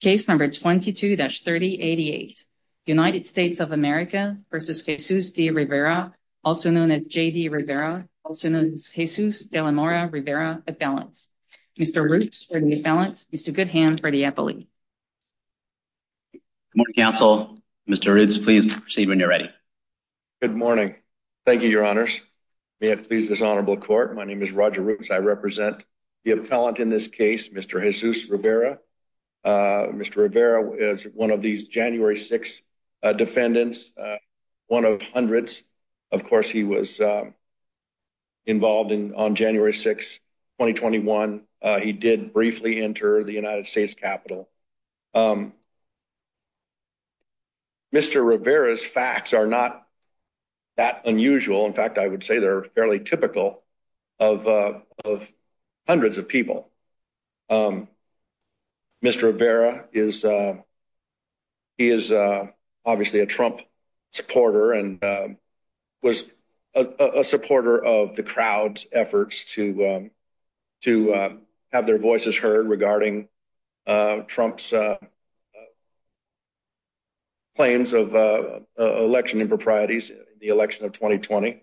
Case number 22-3088, United States of America versus Jesus D. Rivera, also known as J.D. Rivera, also known as Jesus de la Mora Rivera appellants. Mr. Roots for the appellant, Mr. Goodhand for the appellee. Good morning, counsel. Mr. Roots, please proceed when you're ready. Good morning. Thank you, your honors. May it please this honorable court. My name is Roger Roots. I represent the appellant in this case, Mr. Jesus Rivera. Mr. Rivera is one of these January 6th defendants, one of hundreds. Of course, he was involved on January 6th, 2021. He did briefly enter the United States Capitol. Mr. Rivera's facts are not that unusual. In fact, I would say they're fairly typical of hundreds of people. Mr. Rivera, he is obviously a Trump supporter and was a supporter of the crowd's efforts to have their voices heard regarding Trump's claims of election improprieties, the election of 2020.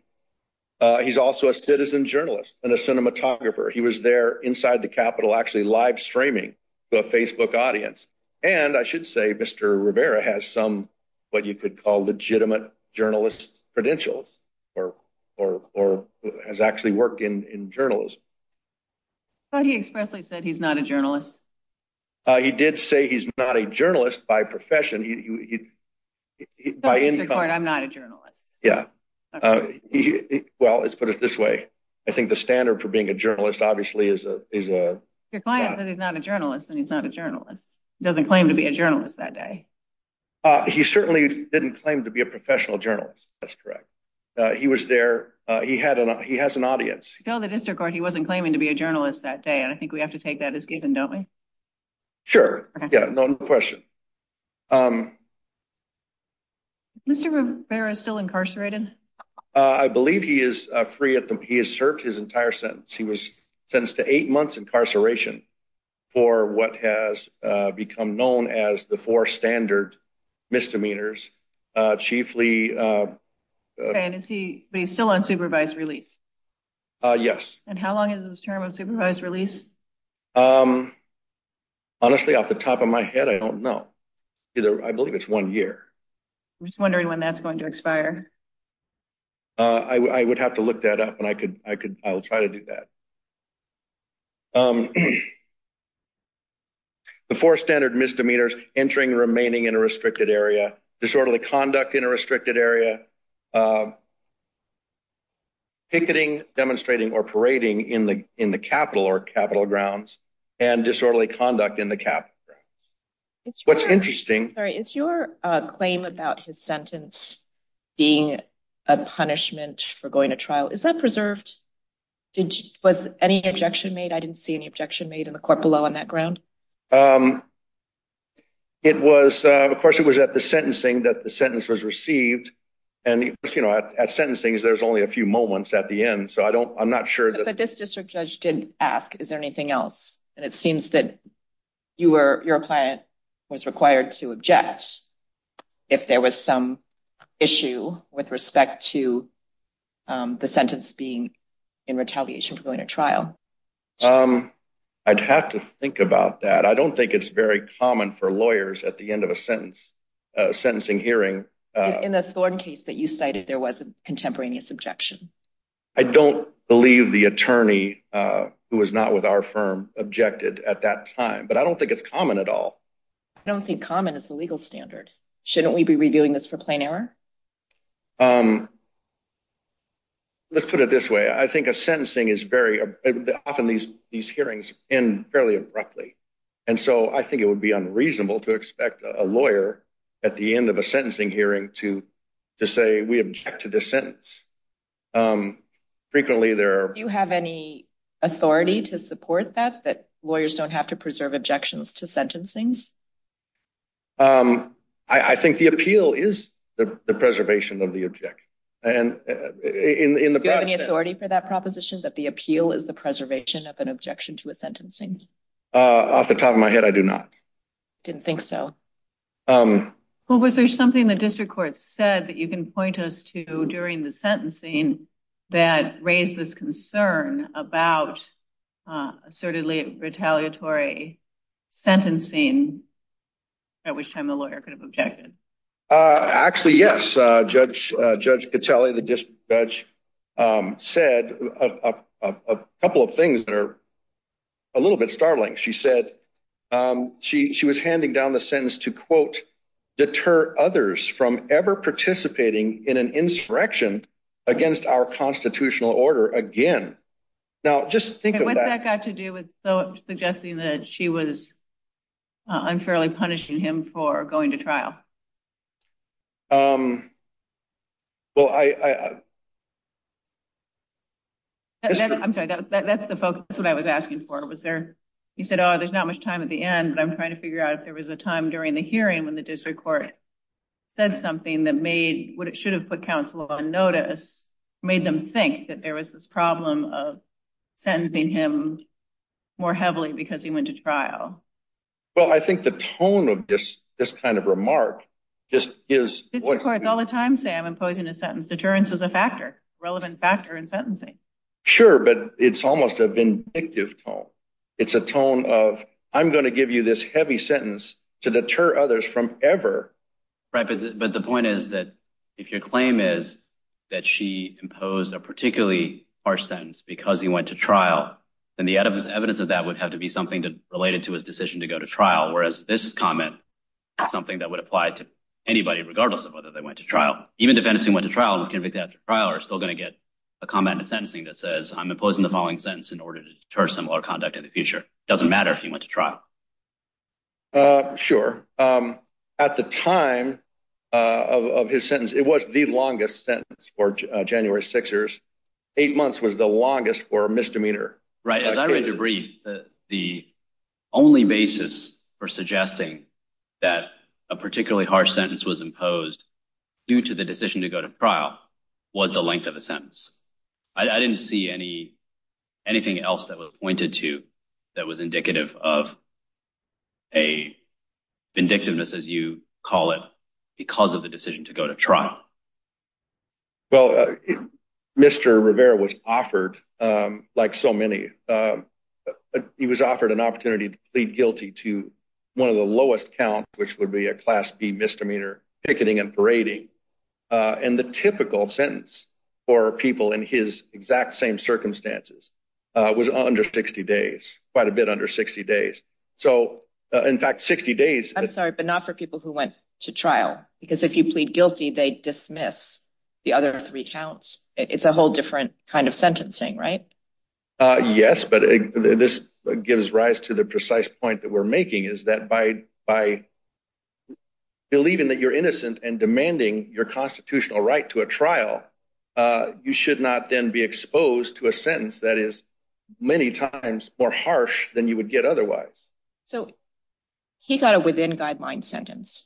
He's also a citizen journalist and a cinematographer. He was there inside the Capitol, actually live streaming to a Facebook audience. And I should say, Mr. Rivera has some, what you could call legitimate journalist credentials or has actually worked in journalism. But he expressly said he's not a journalist. He did say he's not a journalist by profession. By any- I'm not a journalist. Yeah. He, well, let's put it this way. I think the standard for being a journalist obviously is a- Your client said he's not a journalist and he's not a journalist. He doesn't claim to be a journalist that day. He certainly didn't claim to be a professional journalist. That's correct. He was there. He had an, he has an audience. No, the district court, he wasn't claiming to be a journalist that day. And I think we have to take that as given, don't we? Sure, yeah, no question. Mr. Rivera is still incarcerated? I believe he is free at the, he has served his entire sentence. He was sentenced to eight months incarceration for what has become known as the four standard misdemeanors, chiefly- And is he, but he's still on supervised release? Yes. And how long is his term of supervised release? Honestly, off the top of my head, I don't know. Either, I believe it's one year. I'm just wondering when that's going to expire. I would have to look that up and I could, I'll try to do that. The four standard misdemeanors, entering, remaining in a restricted area, disorderly conduct in a restricted area, picketing, demonstrating, or parading in the capital or capital grounds, and disorderly conduct in the capital grounds. What's interesting- Sorry, is your claim about his sentence being a punishment for going to trial, is that preserved? Was any objection made? I didn't see any objection made in the court below on that ground. It was, of course, it was at the sentencing that the sentence was received. And at sentencing, there's only a few moments at the end. So I don't, I'm not sure that- But this district judge did ask, is there anything else? And it seems that you were, your client was required to object if there was some issue with respect to the sentence being in retaliation for going to trial. I'd have to think about that. I don't think it's very common for lawyers at the end of a sentence, a sentencing hearing- In the Thorne case that you cited, there was a contemporaneous objection. I don't believe the attorney who was not with our firm objected at that time, but I don't think it's common at all. I don't think common is the legal standard. Shouldn't we be reviewing this for plain error? Let's put it this way. I think a sentencing is very, often these hearings end fairly abruptly. And so I think it would be unreasonable to expect a lawyer at the end of a sentencing hearing to say, we object to this sentence. Frequently, there are- Do you have any authority to support that, that lawyers don't have to preserve objections to sentencings? I think the appeal is the preservation of the objection. And in the broad sense- Do you have any authority for that proposition, that the appeal is the preservation of an objection to a sentencing? Off the top of my head, I do not. Didn't think so. Well, was there something the district court said that you can point us to during the sentencing that raised this concern about assertedly retaliatory sentencing, at which time the lawyer could have objected? Actually, yes. Judge Catelli, the district judge, said a couple of things that are a little bit startling. She said, she was handing down the sentence to quote, deter others from ever participating in an insurrection against our constitutional order again. Now, just think of that- What's that got to do with suggesting that she was, unfairly punishing him for going to trial? Well, I- I'm sorry, that's the focus, that's what I was asking for. Was there, you said, oh, there's not much time at the end, but I'm trying to figure out if there was a time during the hearing when the district court said something that made what it should have put counsel on notice, made them think that there was this problem of sentencing him more heavily because he went to trial? Well, I think the tone of this kind of remark just is- District courts all the time say I'm imposing a sentence. Deterrence is a factor, relevant factor in sentencing. Sure, but it's almost a vindictive tone. It's a tone of, I'm going to give you this heavy sentence to deter others from ever- Right, but the point is that if your claim is that she imposed a particularly harsh sentence because he went to trial, then the evidence of that would have to be something related to his decision to go to trial, whereas this comment is something that would apply to anybody regardless of whether they went to trial. Even defendants who went to trial and were convicted after trial are still going to get a comment in sentencing that says, I'm imposing the following sentence in order to deter similar conduct in the future. It doesn't matter if he went to trial. Sure. At the time of his sentence, it was the longest sentence for January Sixers. Eight months was the longest for a misdemeanor. Right, as I read the brief, the only basis for suggesting that a particularly harsh sentence was imposed due to the decision to go to trial was the length of the sentence. I didn't see anything else that was pointed to that was indicative of a vindictiveness, as you call it, because of the decision to go to trial. Well, Mr. Rivera was offered, like so many, he was offered an opportunity to plead guilty to one of the lowest count, which would be a Class B misdemeanor, picketing and parading. And the typical sentence for people in his exact same circumstances was under 60 days, quite a bit under 60 days. So in fact, 60 days- I'm sorry, but not for people who went to trial, because if you plead guilty, they dismiss the other three counts. It's a whole different kind of sentencing, right? Yes, but this gives rise to the precise point that we're making is that by believing that you're innocent and demanding your constitutional right to a trial, you should not then be exposed to a sentence that is many times more harsh than you would get otherwise. So he got a within-guidelines sentence.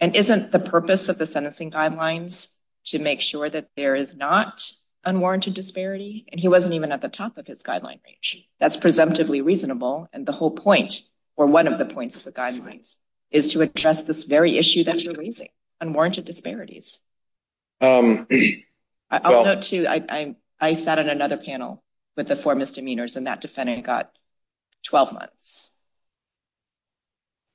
And isn't the purpose of the sentencing guidelines to make sure that there is not unwarranted disparity? And he wasn't even at the top of his guideline range. That's presumptively reasonable. And the whole point, or one of the points of the guidelines, is to address this very issue that you're raising, unwarranted disparities. I'll note too, I sat on another panel with the four misdemeanors, and that defendant got 12 months.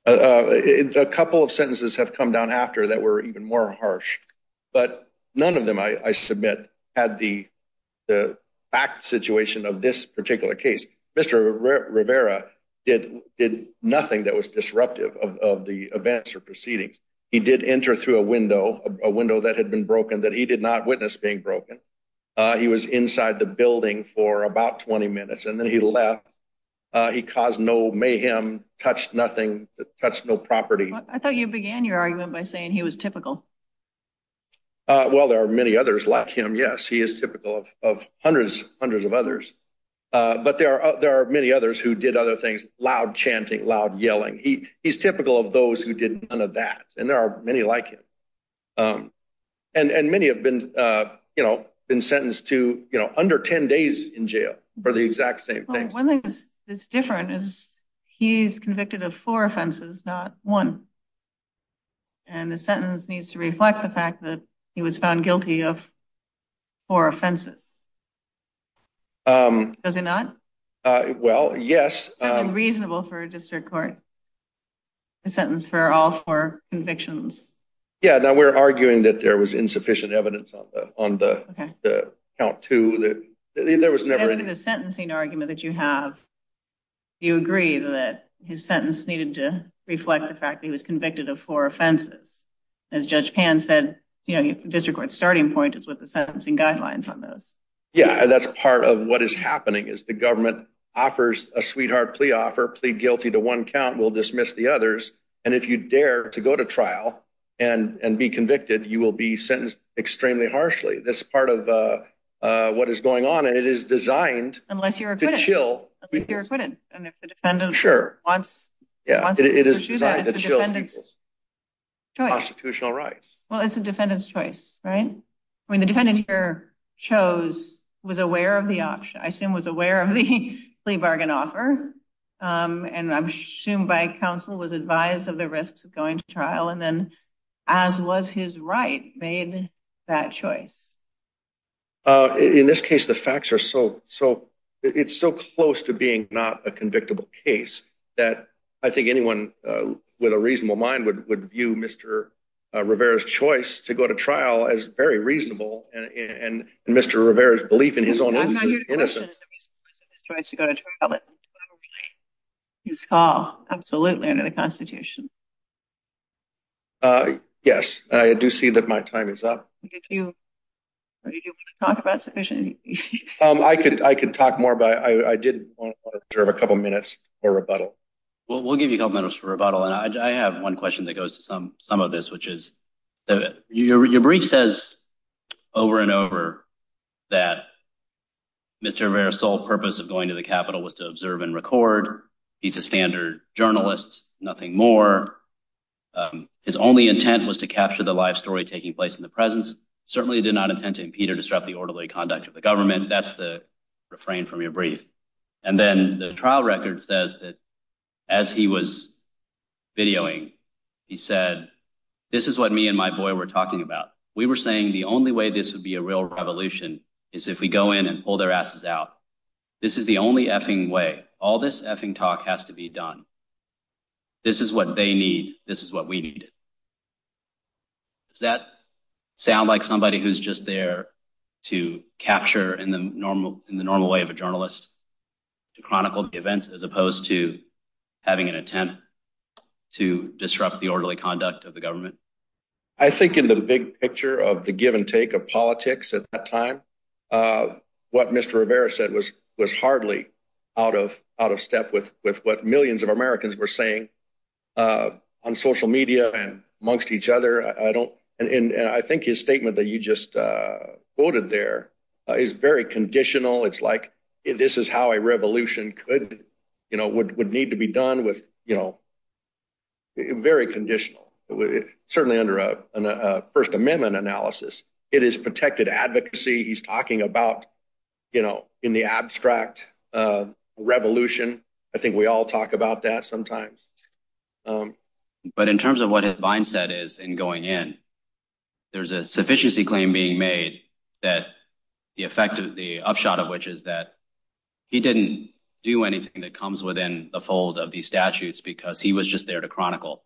A couple of sentences have come down after that were even more harsh, but none of them, I submit, had the fact situation of this particular case. Mr. Rivera did nothing that was disruptive of the events or proceedings. He did enter through a window, a window that had been broken that he did not witness being broken. He was inside the building for about 20 minutes, and then he left. He caused no mayhem, touched nothing, touched no property. I thought you began your argument by saying he was typical. Well, there are many others like him, yes. He is typical of hundreds of others. But there are many others who did other things, loud chanting, loud yelling. He's typical of those who did none of that. And there are many like him. And many have been, you know, been sentenced to, you know, under 10 days in jail for the exact same thing. One thing that's different is he's convicted of four offenses, not one. And the sentence needs to reflect the fact that he was found guilty of four offenses. Does he not? Well, yes. Something reasonable for a district court, a sentence for all four convictions. Yeah, now we're arguing that there was insufficient evidence on the count too. There was never- It has to be the sentencing argument that you have. You agree that his sentence needed to reflect the fact that he was convicted of four offenses. As Judge Pan said, you know, district court's starting point is with the sentencing guidelines on those. Yeah, and that's part of what is happening, is the government offers a sweetheart plea offer, plead guilty to one count, we'll dismiss the others. And if you dare to go to trial and be convicted, you will be sentenced extremely harshly. That's part of what is going on, and it is designed to chill- Unless you're acquitted, unless you're acquitted. And if the defendant- Sure. Yeah, it is designed to chill people's constitutional rights. Well, it's a defendant's choice, right? I mean, the defendant here chose, was aware of the option, I assume was aware of the plea bargain offer, and I'm assumed by counsel was advised of the risks of going to trial, and then as was his right, made that choice. In this case, the facts are so, it's so close to being not a convictable case that I think anyone with a reasonable mind would view Mr. Rivera's choice to go to trial as very reasonable, and Mr. Rivera's belief in his own innocence. I'm not here to question the reason why Mr. Rivera's choice to go to trial is in some way his call, absolutely, under the Constitution. Yes, I do see that my time is up. Did you want to talk about sufficient- I could talk more, but I did want to observe a couple minutes for rebuttal. Well, we'll give you a couple minutes for rebuttal, and I have one question that goes to some of this, which is, your brief says over and over that Mr. Rivera's sole purpose of going to the Capitol was to observe and record. He's a standard journalist, nothing more. His only intent was to capture the live story taking place in the presence. Certainly did not intend to impede or disrupt the orderly conduct of the government. That's the refrain from your brief. And then the trial record says that as he was videoing, he said, this is what me and my boy were talking about. We were saying the only way this would be a real revolution is if we go in and pull their asses out. This is the only effing way. All this effing talk has to be done. This is what they need. This is what we need. Does that sound like somebody who's just there to capture in the normal way of a journalist, to chronicle the events, as opposed to having an intent to disrupt the orderly conduct of the government? I think in the big picture of the give and take of politics at that time, what Mr. Rivera said was hardly out of step with what millions of Americans were saying on social media and amongst each other. I don't, and I think his statement that you just quoted there is very conditional. It's like, this is how a revolution could, would need to be done with, very conditional, certainly under a first amendment analysis. It is protected advocacy. He's talking about, you know, in the abstract revolution. I think we all talk about that sometimes. But in terms of what his mindset is in going in, there's a sufficiency claim being made that the effect of the upshot of which is that he didn't do anything that comes within the fold of these statutes because he was just there to chronicle.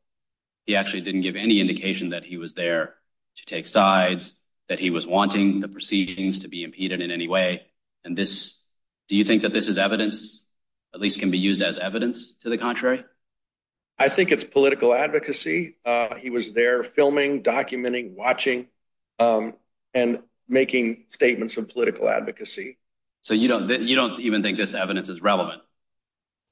He actually didn't give any indication that he was there to take sides, that he was wanting the proceedings to be impeded in any way. And this, do you think that this is evidence, at least can be used as evidence to the contrary? I think it's political advocacy. He was there filming, documenting, watching, and making statements of political advocacy. So you don't even think this evidence is relevant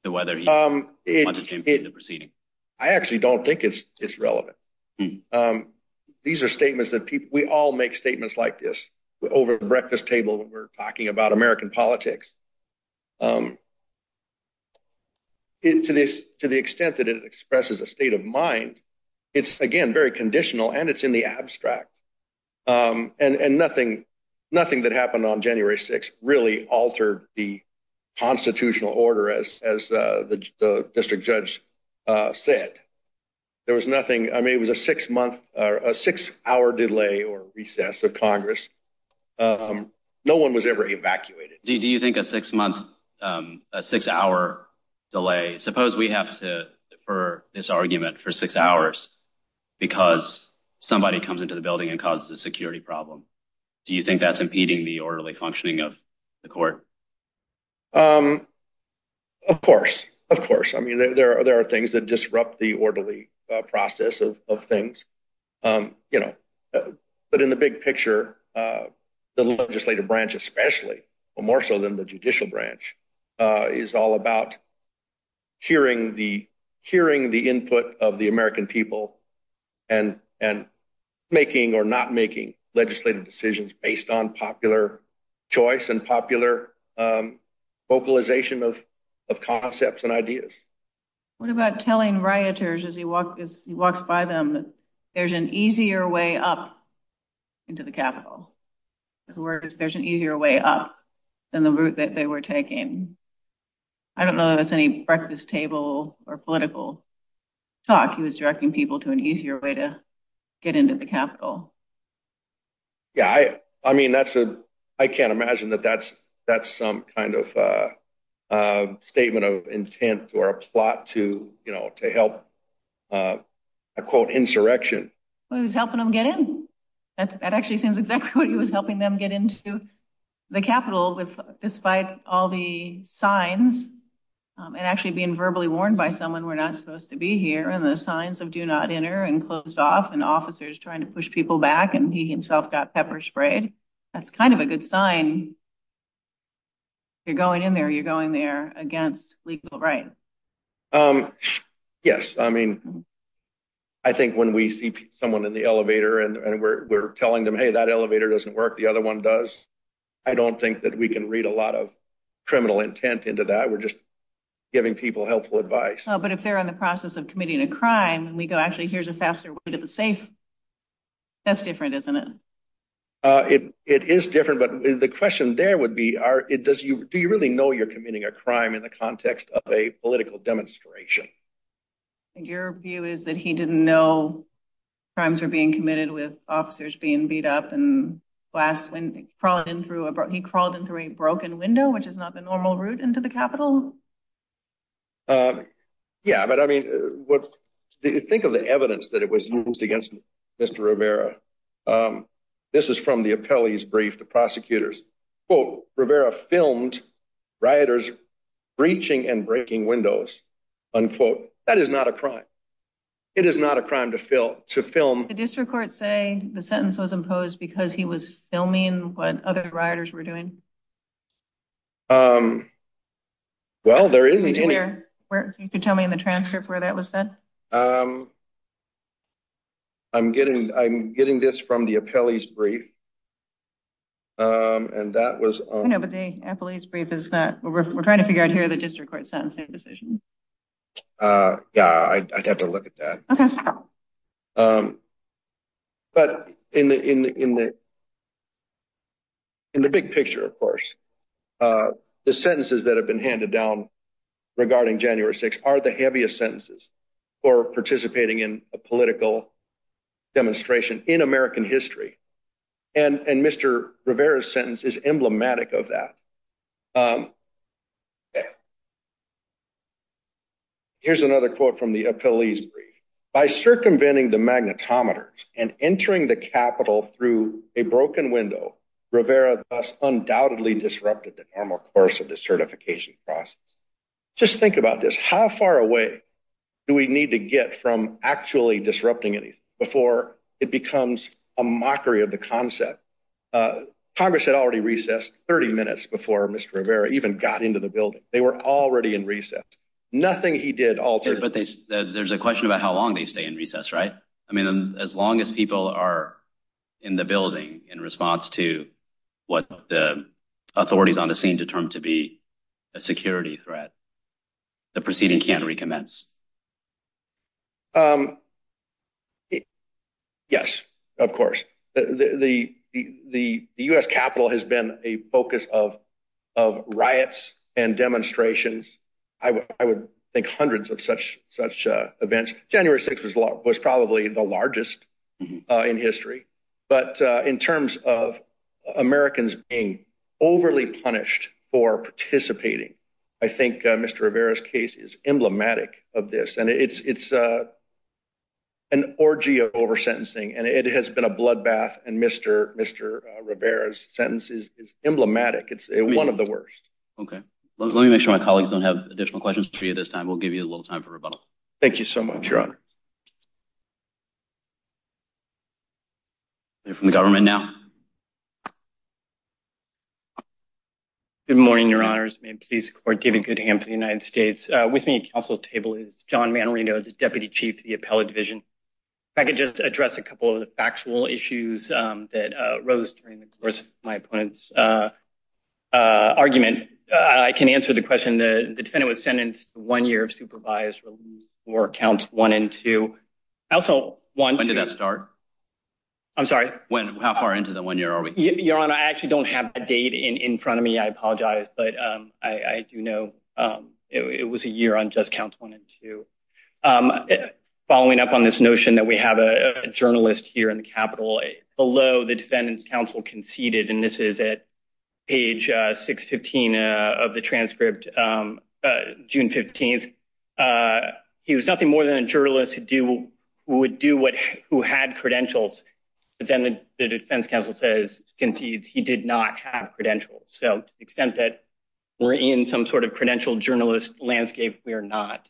to whether he wanted to impede the proceeding? I actually don't think it's relevant. These are statements that people, we all make statements like this over breakfast table when we're talking about American politics. To the extent that it expresses a state of mind, it's, again, very conditional and it's in the abstract. And nothing that happened on January 6th really altered the constitutional order as the district judge said. There was nothing, I mean, it was a six month or a six hour delay or recess of Congress. No one was ever evacuated. Do you think a six month, a six hour delay, suppose we have to defer this argument for six hours because somebody comes into the building and causes a security problem. Do you think that's impeding the orderly functioning of the court? Of course, of course. I mean, there are things that disrupt the orderly process of things. But in the big picture, the legislative branch, especially more so than the judicial branch is all about hearing the input of the American people and making or not making legislative decisions based on popular choice and popular vocalization of concepts and ideas. What about telling rioters as he walks by them there's an easier way up into the Capitol? His words, there's an easier way up than the route that they were taking. I don't know that's any breakfast table or political talk. to get into the Capitol. Yeah, I mean, that's a, I can't imagine that that's some kind of a statement of intent or a plot to, you know, to help, I quote, insurrection. Well, he was helping them get in. That actually seems exactly what he was helping them get into the Capitol with, despite all the signs and actually being verbally warned by someone we're not supposed to be here and the signs of do not enter and closed off and officers trying to push people back and he himself got pepper sprayed. That's kind of a good sign. You're going in there, you're going there against legal right. Yes, I mean, I think when we see someone in the elevator and we're telling them, hey, that elevator doesn't work. The other one does. I don't think that we can read a lot of criminal intent into that. We're just giving people helpful advice. But if they're in the process of committing a crime and we go, actually, here's a faster way to the safe. That's different, isn't it? It is different. But the question there would be are it does you, do you really know you're committing a crime in the context of a political demonstration? Your view is that he didn't know crimes were being committed with officers being beat up and blast when he crawled in through a broken window which is not the normal route into the Capitol. Yeah, but I mean, think of the evidence that it was used against Mr. Rivera. This is from the appellee's brief, the prosecutor's. Quote, Rivera filmed rioters breaching and breaking windows, unquote. That is not a crime. It is not a crime to film. Did the district court say the sentence was imposed because he was filming what other rioters were doing? Well, there isn't any- Could you tell me in the transcript where that was said? I'm getting this from the appellee's brief and that was- I know, but the appellee's brief is not, we're trying to figure out here the district court sentencing decision. Yeah, I'd have to look at that. Okay. But in the big picture, of course, the sentences that have been handed down regarding January 6th are the heaviest sentences for participating in a political demonstration in American history. And Mr. Rivera's sentence is emblematic of that. Here's another quote from the appellee's brief. By circumventing the magnetometers and entering the Capitol through a broken window, Rivera thus undoubtedly disrupted the normal course of the certification process. Just think about this. How far away do we need to get from actually disrupting anything before it becomes a mockery of the concept? Congress had already recessed 30 minutes before Mr. Rivera even got into the building. They were already in recess. Nothing he did altered- But there's a question about how long they stay in recess, right? I mean, as long as people are in the building in response to what the authorities on the scene determined to be a security threat, the proceeding can't recommence. Yes, of course. The U.S. Capitol has been a focus of riots and demonstrations. I would think hundreds of such events. January 6th was probably the largest in history. But in terms of Americans being overly punished for participating, I think Mr. Rivera's case is emblematic of this. And it's an orgy of over-sentencing. And it has been a bloodbath. And Mr. Rivera's sentence is emblematic. It's one of the worst. Okay. Let me make sure my colleagues don't have additional questions for you this time. We'll give you a little time for rebuttal. Thank you so much, Your Honor. You're from the government now. Good morning, Your Honors. May it please the Court, David Goodham for the United States. With me at counsel's table is John Manorino, the Deputy Chief of the Appellate Division. If I could just address a couple of the factual issues that arose during the course of my opponent's argument, I can answer the question. The defendant was sentenced to one year of supervised release for counts one and two. I also want to- When did that start? I'm sorry? How far into the one year are we? Your Honor, I actually don't have a date in front of me. I apologize. But I do know it was a year on just counts one and two. Following up on this notion that we have a journalist here in the Capitol, below the defendant's counsel conceded, and this is at page 615 of the transcript, June 15th. He was nothing more than a journalist who would do what, who had credentials, but then the defense counsel says, concedes he did not have credentials. So to the extent that we're in some sort of credentialed journalist landscape, we are not.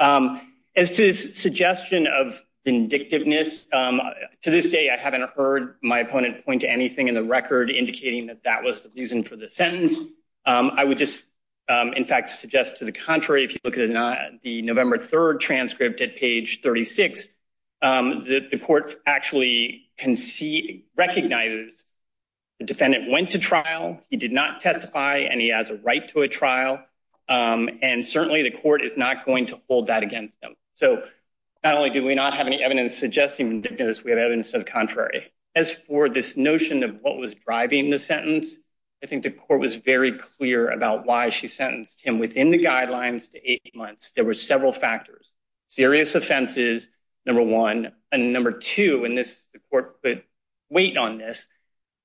As to his suggestion of vindictiveness, to this day I haven't heard my opponent point to anything in the record indicating that that was the reason for the sentence. I would just, in fact, suggest to the contrary, if you look at the November 3rd transcript at page 36, that the court actually can see, recognizes the defendant went to trial, he did not testify, and he has a right to a trial. And certainly the court is not going to hold that against him. So not only do we not have any evidence suggesting vindictiveness, we have evidence of the contrary. As for this notion of what was driving the sentence, I think the court was very clear about why she sentenced him within the guidelines to eight months. There were several factors. Serious offenses, number one. And number two, and the court put weight on this,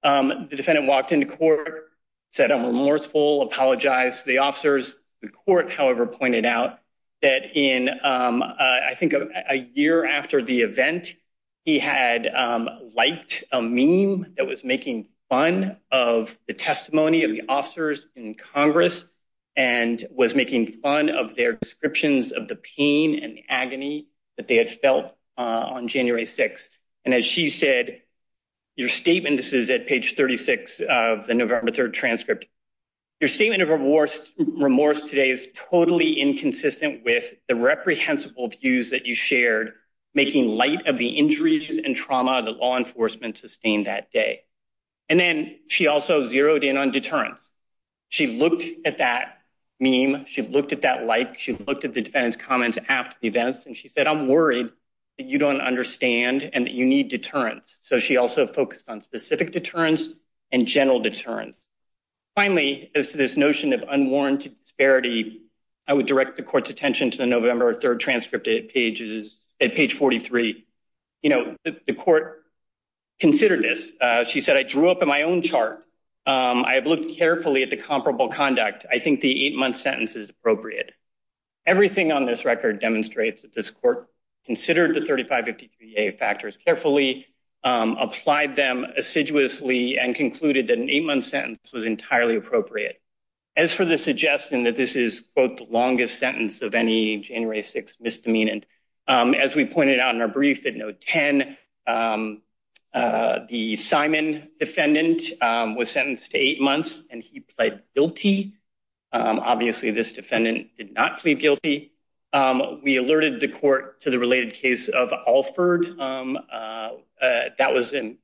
the defendant walked into court, said, I'm remorseful, apologize to the officers. The court, however, pointed out that in, I think a year after the event, of the testimony of the officers in Congress and was making fun of their descriptions of the pain and agony that they had felt on January 6th. And as she said, your statement, this is at page 36 of the November 3rd transcript. Your statement of remorse today is totally inconsistent with the reprehensible views that you shared, making light of the injuries and trauma that law enforcement sustained that day. And then she also zeroed in on deterrence. She looked at that meme, she looked at that like, she looked at the defendant's comments after the events, and she said, I'm worried that you don't understand and that you need deterrence. So she also focused on specific deterrence and general deterrence. Finally, as to this notion of unwarranted disparity, I would direct the court's attention to the November 3rd transcript at page 43. The court considered this. She said, I drew up in my own chart. I have looked carefully at the comparable conduct. I think the eight-month sentence is appropriate. Everything on this record demonstrates that this court considered the 3553A factors carefully, applied them assiduously, and concluded that an eight-month sentence was entirely appropriate. As for the suggestion that this is, quote, the longest sentence of any January 6th misdemeanant, as we pointed out in our brief at note 10, the Simon defendant was sentenced to eight months and he pled guilty. Obviously, this defendant did not plead guilty. We alerted the court to the related case of Alford. That was a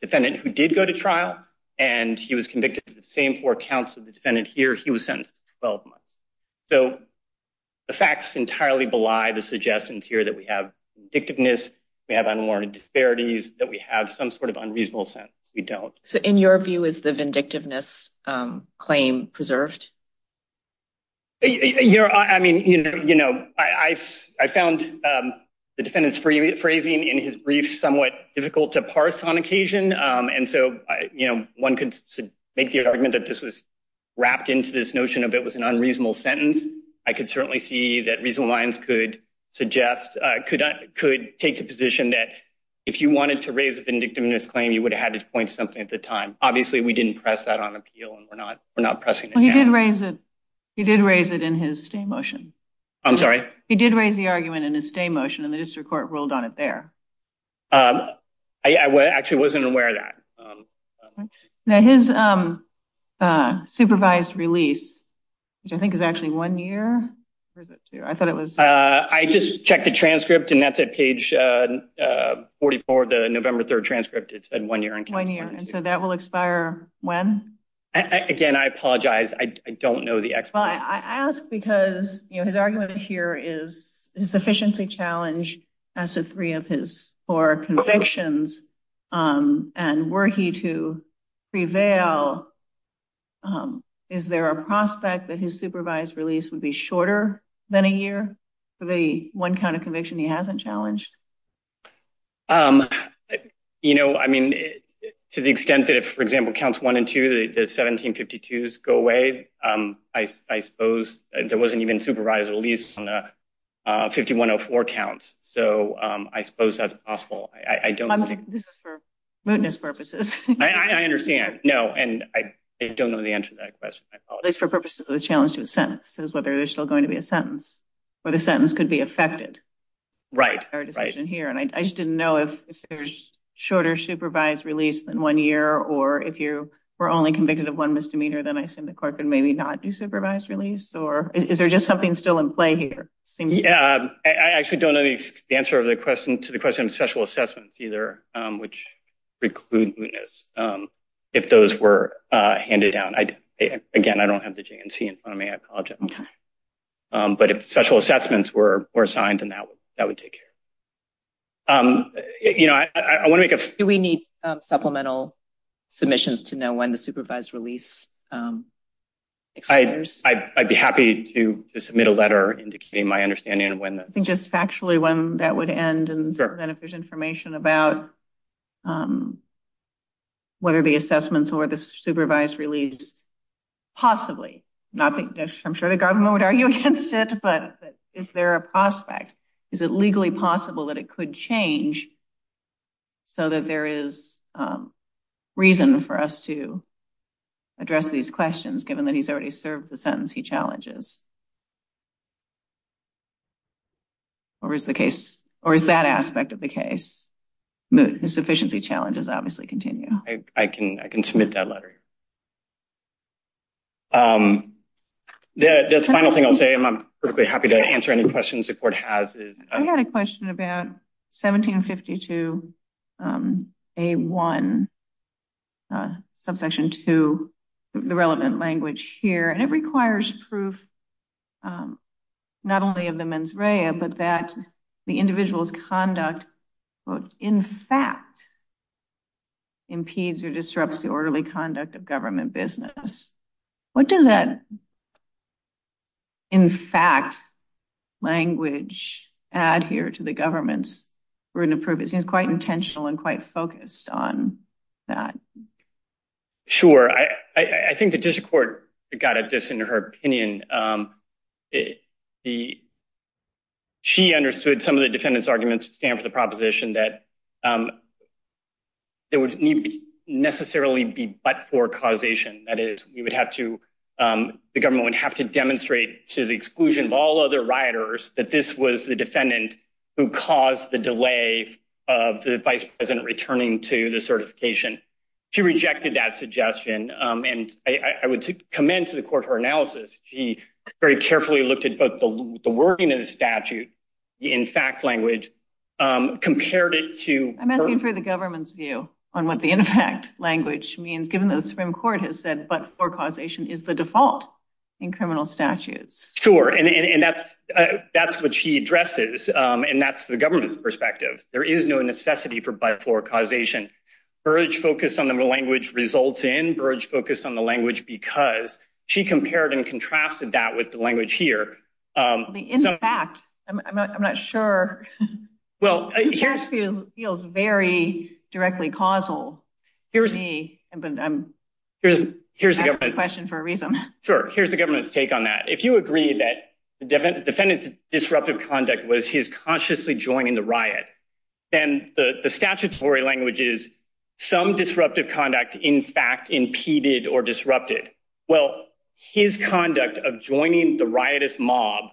defendant who did go to trial, and he was convicted of the same four counts of the defendant here. He was sentenced to 12 months. So the facts entirely belie the suggestions here that we have predictiveness, we have unwarranted disparity, that we have some sort of unreasonable sentence. We don't. So in your view, is the vindictiveness claim preserved? I mean, you know, I found the defendant's phrasing in his brief somewhat difficult to parse on occasion. And so, you know, one could make the argument that this was wrapped into this notion of it was an unreasonable sentence. I could certainly see that reasonable minds could suggest, could take the position that if you wanted to raise a vindictiveness claim, you would have had to point something at the time. Obviously, we didn't press that on appeal and we're not pressing it now. Well, he did raise it. He did raise it in his stay motion. I'm sorry? He did raise the argument in his stay motion and the district court ruled on it there. I actually wasn't aware of that. Now his supervised release, which I think is actually one year, or is it two? I thought it was- I just checked the transcript and that's at page 44, the November 3rd transcript. It said one year in- One year. And so that will expire when? Again, I apologize. I don't know the exact- Well, I ask because, you know, his argument here is his sufficiency challenge as to three of his four convictions. And were he to prevail, is there a prospect that his supervised release would be shorter than a year for the one kind of conviction he hasn't challenged? You know, I mean, to the extent that if, for example, counts one and two, the 1752s go away, I suppose there wasn't even supervised release on the 5104 counts. So I suppose that's possible. I don't- I'm thinking this is for mootness purposes. I understand. No, and I don't know the answer to that question. I apologize. At least for purposes of a challenge to a sentence. It says whether there's still going to be a sentence or the sentence could be affected. Right. Our decision here. And I just didn't know if there's shorter supervised release than one year, or if you were only convicted of one misdemeanor, then I assume the court could maybe not do supervised release, or is there just something still in play here? Yeah. I actually don't know the answer of the question to the question of special assessments either, which preclude mootness. If those were handed down, again, I don't have the JNC in front of me. I apologize. Okay. But if special assessments were assigned and that would take care. Do we need supplemental submissions to know when the supervised release expires? I'd be happy to submit a letter indicating my understanding of when the- I think just factually when that would end and then if there's information about whether the assessments or the supervised release possibly, not that I'm sure the government would argue against it, but is there a prospect? Is it legally possible that it could change so that there is reason for us to address these questions given that he's already served the sentencing challenges? Or is the case, or is that aspect of the case? Moot, his sufficiency challenges obviously continue. I can submit that letter. The final thing I'll say, and I'm perfectly happy to answer any questions the court has is- I've got a question about 1752A1 subsection two, the relevant language here. And it requires proof, not only of the mens rea, but that the individual's conduct, quote, in fact impedes or disrupts the orderly conduct of government business. What does that, in fact, language add here to the government's written approval? It seems quite intentional and quite focused on that. Sure. I think the district court got at this in her opinion. She understood some of the defendant's arguments to stand for the proposition that there would need necessarily be but for causation. That is, we would have to, the government would have to demonstrate to the exclusion of all other rioters that this was the defendant who caused the delay of the vice president returning to the certification. She rejected that suggestion. And I would commend to the court her analysis. She very carefully looked at both the wording of the statute in fact language, compared it to- I'm asking for the government's view on what the in fact language means, given the Supreme Court has said, but for causation is the default in criminal statutes. Sure. And that's what she addresses. And that's the government's perspective. There is no necessity for by for causation. Burge focused on the language results in, Burge focused on the language because, she compared and contrasted that with the language here. The in fact, I'm not sure. Well, here- It actually feels very directly causal. Here's the- I'm asking the question for a reason. Sure. Here's the government's take on that. If you agree that the defendant's disruptive conduct was his consciously joining the riot, then the statutory language is some disruptive conduct in fact impeded or disrupted. Well, his conduct of joining the riotous mob,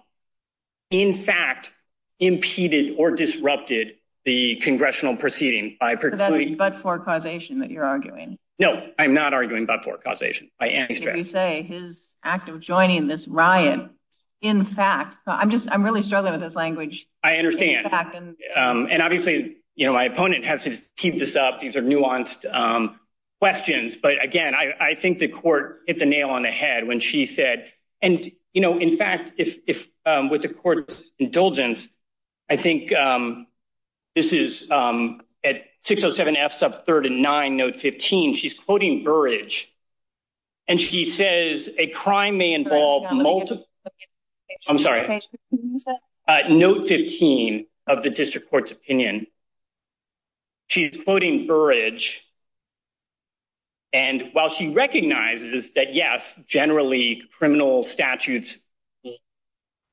in fact impeded or disrupted the congressional proceeding. By precluding- But for causation that you're arguing. No, I'm not arguing but for causation. I am- So you say his act of joining this riot, in fact, I'm just, I'm really struggling with this language. I understand. And obviously, my opponent has teed this up. These are nuanced questions, but again, I think the court hit the nail on the head when she said, and in fact, if with the court's indulgence, I think this is at 607 F sub 39, note 15, she's quoting Burrage. And she says, a crime may involve multiple- I'm sorry. Note 15 of the district court's opinion. She's quoting Burrage. And while she recognizes that yes, generally criminal statutes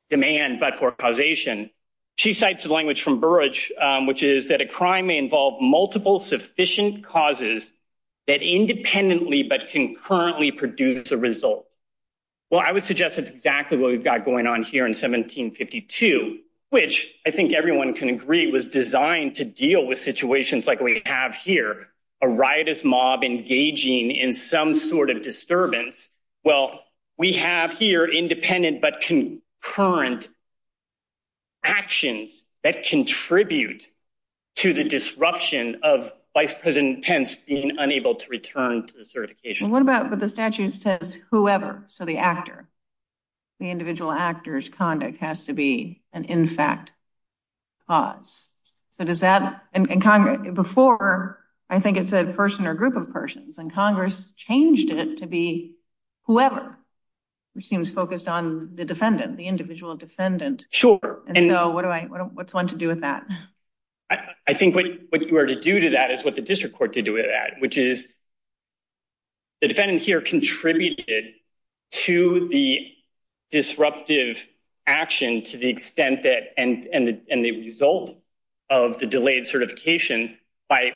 demand but for causation, she cites the language from Burrage, which is that a crime may involve multiple sufficient causes that independently but concurrently produce a result. Well, I would suggest it's exactly what we've got going on here in 1752, which I think everyone can agree was designed to deal with situations like we have here, a riotous mob engaging in some sort of disturbance. Well, we have here independent but concurrent actions that contribute to the disruption of Vice President Pence being unable to return to the certification. What about, but the statute says whoever, so the actor, the individual actor's conduct has to be an in fact cause. So does that, and Congress, before, I think it said person or group of persons, and Congress changed it to be whoever, which seems focused on the defendant, the individual defendant. And so what do I, what's one to do with that? I think what you were to do to that is what the district court to do with that, which is the defendant here contributed to the disruptive action to the extent that, and the result of the delayed certification by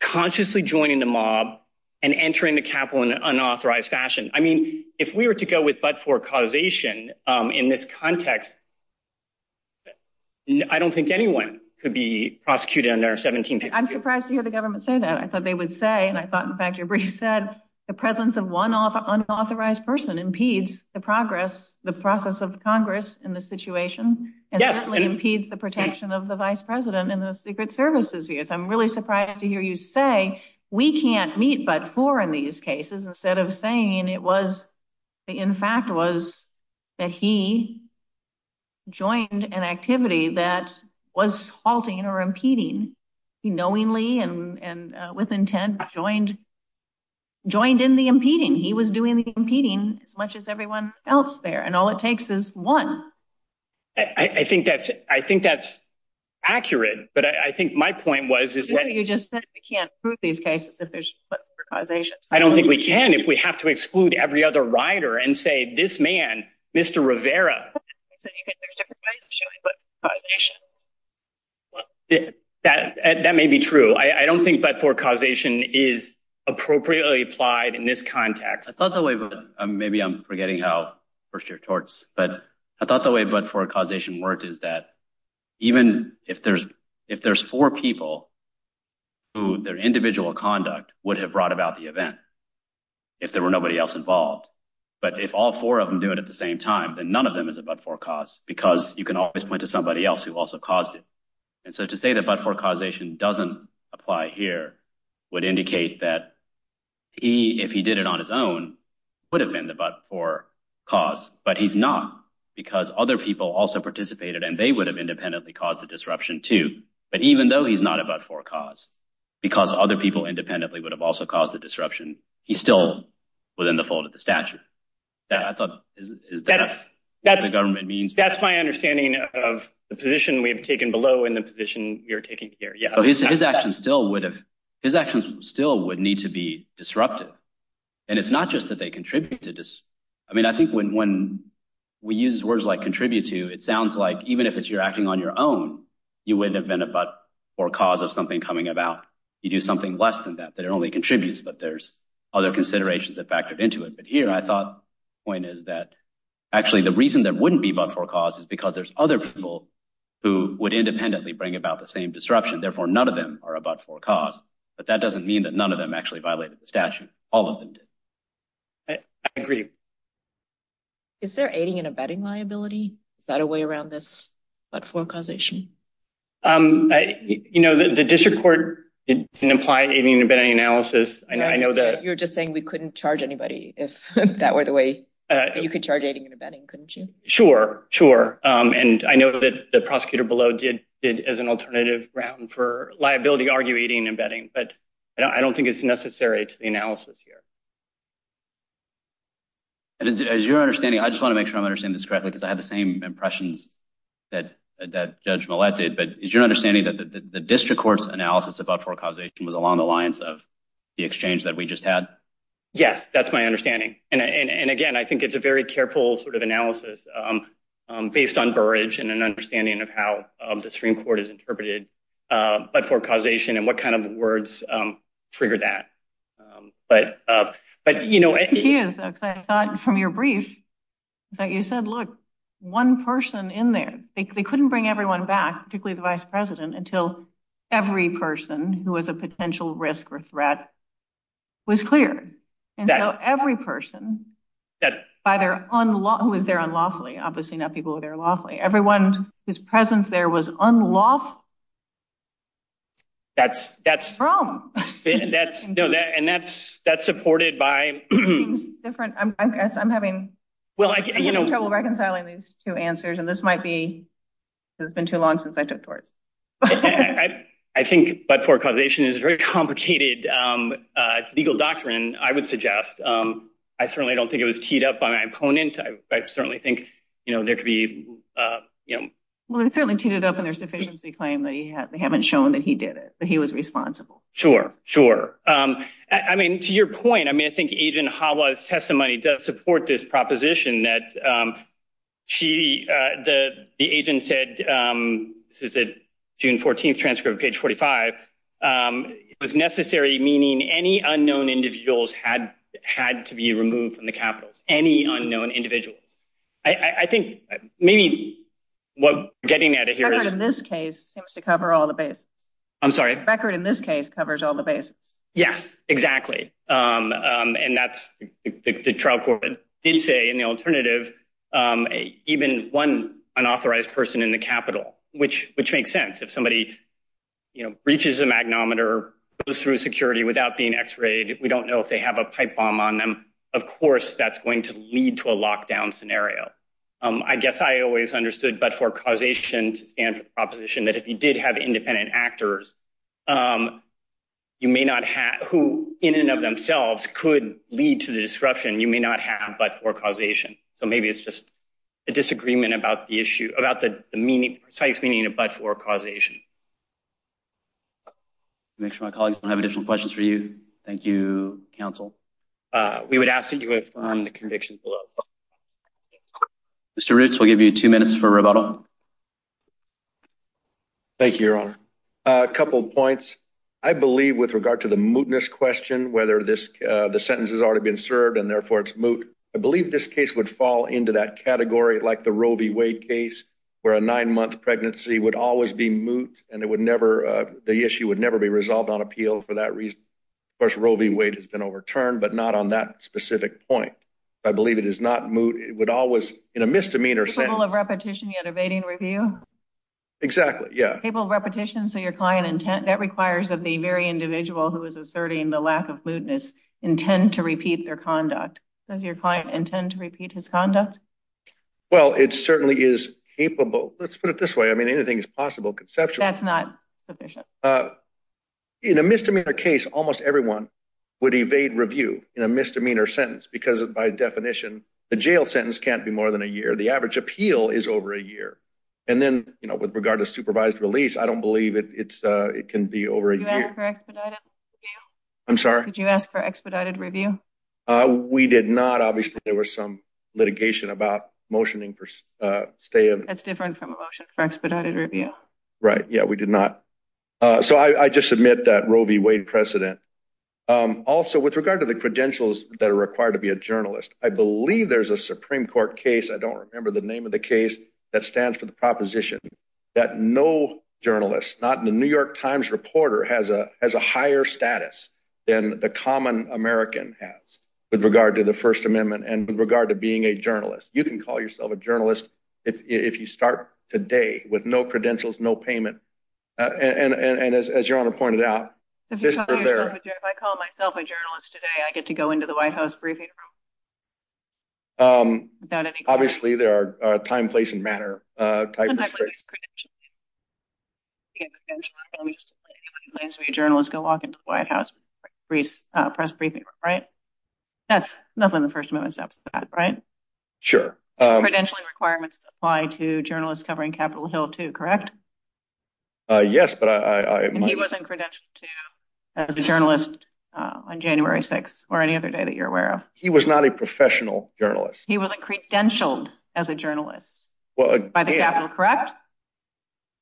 consciously joining the mob and entering the Capitol in an unauthorized fashion. I mean, if we were to go with but for causation in this context, I don't think anyone could be prosecuted under 17. I'm surprised to hear the government say that. I thought they would say, and I thought, in fact, your brief said the presence of one unauthorized person impedes the progress, the process of Congress in this situation, and certainly impedes the protection of the Vice President and the Secret Service's views. I'm really surprised to hear you say we can't meet but for in these cases instead of saying it was, in fact, was that he joined an activity that was halting or impeding. He knowingly and with intent joined, joined in the impeding. He was doing the impeding as much as everyone else there. And all it takes is one. I think that's accurate. But I think my point was, is that- You just said we can't prove these cases if there's but for causation. I don't think we can if we have to exclude every other rider and say, this man, Mr. Rivera, thinks that there's different ways of showing but for causation. That may be true. I don't think but for causation is appropriately applied in this context. I thought the way, maybe I'm forgetting how first year torts, but I thought the way but for causation worked is that even if there's four people who their individual conduct would have brought about the event if there were nobody else involved. But if all four of them do it at the same time, then none of them is a but for cause because you can always point to somebody else who also caused it. And so to say that but for causation doesn't apply here would indicate that he, if he did it on his own, would have been the but for cause, but he's not because other people also participated and they would have independently caused the disruption too. But even though he's not a but for cause, because other people independently would have also caused the disruption, he's still within the fold of the statute. That I thought is the government means. That's my understanding of the position we've taken below in the position you're taking here, yeah. So his actions still would have, his actions still would need to be disrupted. And it's not just that they contribute to this. I mean, I think when we use words like contribute to, it sounds like even if it's you're acting on your own, you wouldn't have been a but for cause of something coming about. You do something less than that, that it only contributes, but there's other considerations that factored into it. But here I thought point is that actually the reason there wouldn't be but for cause is because there's other people who would independently bring about the same disruption. Therefore, none of them are a but for cause, but that doesn't mean that none of them actually violated the statute. All of them did. I agree. Is there aiding and abetting liability? Is that a way around this but for causation? You know, the district court didn't apply aiding and abetting analysis. I know that- You're just saying we couldn't charge anybody if that were the way you could charge aiding and abetting, couldn't you? Sure, sure. And I know that the prosecutor below did as an alternative ground for liability, argue aiding and abetting, but I don't think it's necessary to the analysis here. As you're understanding, I just wanna make sure I'm understanding this correctly because I had the same impressions that Judge Millett did, but is your understanding that the district court's analysis about for causation was along the lines of the exchange that we just had? Yes, that's my understanding. And again, I think it's a very careful sort of analysis based on Burrage and an understanding of how the Supreme Court has interpreted but for causation and what kind of words trigger that. But you know- Excuse, I thought from your brief that you said, look, one person in there, they couldn't bring everyone back, particularly the vice president until every person who was a potential risk or threat was cleared. And so every person who was there unlawfully, obviously not people who were there unlawfully, everyone whose presence there was unlawfully- That's- From. And that's supported by- It means different, I'm having trouble recognizing- I'm reconciling these two answers, and this might be, it's been too long since I took tours. I think but for causation is a very complicated legal doctrine, I would suggest. I certainly don't think it was teed up by my opponent. I certainly think, you know, there could be, you know- Well, it certainly teed it up in their sufficiency claim that they haven't shown that he did it, that he was responsible. Sure, sure. I mean, to your point, I mean, I think Agent Hawa's testimony does support this proposition that she, the agent said, this is a June 14th transcript, page 45, it was necessary, meaning any unknown individuals had to be removed from the capitals, any unknown individuals. I think maybe what getting out of here is- The record in this case seems to cover all the bases. I'm sorry? The record in this case covers all the bases. Yes, exactly. And that's the trial court did say, and the alternative, even one unauthorized person in the capital, which makes sense. If somebody, you know, reaches a magnometer, goes through security without being x-rayed, we don't know if they have a pipe bomb on them. Of course, that's going to lead to a lockdown scenario. I guess I always understood but for causation to stand for the proposition that if you did have independent actors, you may not have, who in and of themselves could lead to the disruption, you may not have but for causation. So maybe it's just a disagreement about the issue, about the precise meaning of but for causation. Make sure my colleagues don't have additional questions for you. Thank you, counsel. We would ask that you affirm the conviction below. Thank you, Your Honor. A couple of points. I believe with regard to the mootness question, whether the sentence has already been served and therefore it's moot, I believe this case would fall into that category like the Roe v. Wade case, where a nine-month pregnancy would always be moot and it would never, the issue would never be resolved on appeal for that reason. Of course, Roe v. Wade has been overturned but not on that specific point. I believe it is not moot, it would always, in a misdemeanor sentence- Cable of repetition yet evading review? Exactly, yeah. Cable of repetition, so your client intent, that requires that the very individual who is asserting the lack of mootness intend to repeat their conduct. Does your client intend to repeat his conduct? Well, it certainly is capable. Let's put it this way. I mean, anything is possible conceptually. That's not sufficient. In a misdemeanor case, almost everyone would evade review in a misdemeanor sentence because by definition, the jail sentence can't be more than a year. The average appeal is over a year. And then, with regard to supervised release, I don't believe it can be over a year. Did you ask for expedited review? I'm sorry? Did you ask for expedited review? We did not. Obviously, there was some litigation about motioning for stay of- That's different from a motion for expedited review. Right, yeah, we did not. So I just submit that Roe v. Wade precedent. Also, with regard to the credentials that are required to be a journalist, I believe there's a Supreme Court case, I don't remember the name of the case, that stands for the proposition that no journalist, not in the New York Times reporter, has a higher status than the common American has with regard to the First Amendment and with regard to being a journalist. You can call yourself a journalist if you start today with no credentials, no payment. And as Your Honor pointed out- If I call myself a journalist today, I get to go into the White House briefing room? Obviously, there are time, place, and manner type of- Contextually, there's credentialing. You get credentialing, let me just tell you, anybody who claims to be a journalist can walk into the White House press briefing room, right? That's nothing the First Amendment says about that, right? Sure. Credentialing requirements apply to journalists covering Capitol Hill, too, correct? Yes, but I- And he wasn't credentialed, too, as a journalist on January 6th or any other day that you're aware of? He was not a professional journalist. He wasn't credentialed as a journalist. Well, again- By the Capitol, correct?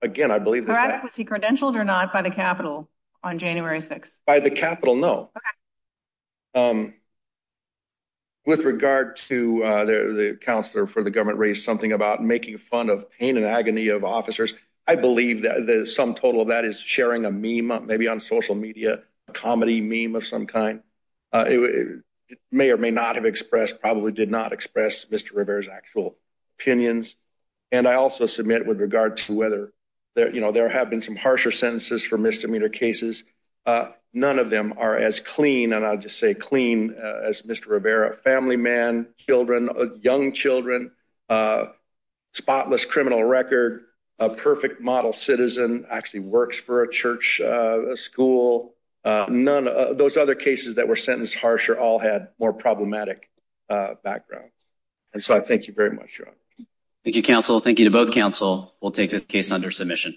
Again, I believe that- Correct, was he credentialed or not by the Capitol on January 6th? By the Capitol, no. Okay. With regard to the counselor for the government raised something about making fun of pain and agony of officers, I believe that the sum total of that is sharing a meme, maybe on social media, a comedy meme of some kind. It may or may not have expressed, probably did not express Mr. Rivera's actual opinions. And I also submit with regard to whether there, you know, there have been some harsher sentences for misdemeanor cases. None of them are as clean, and I'll just say clean, as Mr. Rivera. Family man, children, young children, spotless criminal record, a perfect model citizen, actually works for a church school. None of those other cases that were sentenced harsher all had more problematic backgrounds. And so I thank you very much, Your Honor. Thank you, counsel. Thank you to both counsel. We'll take this case under submission.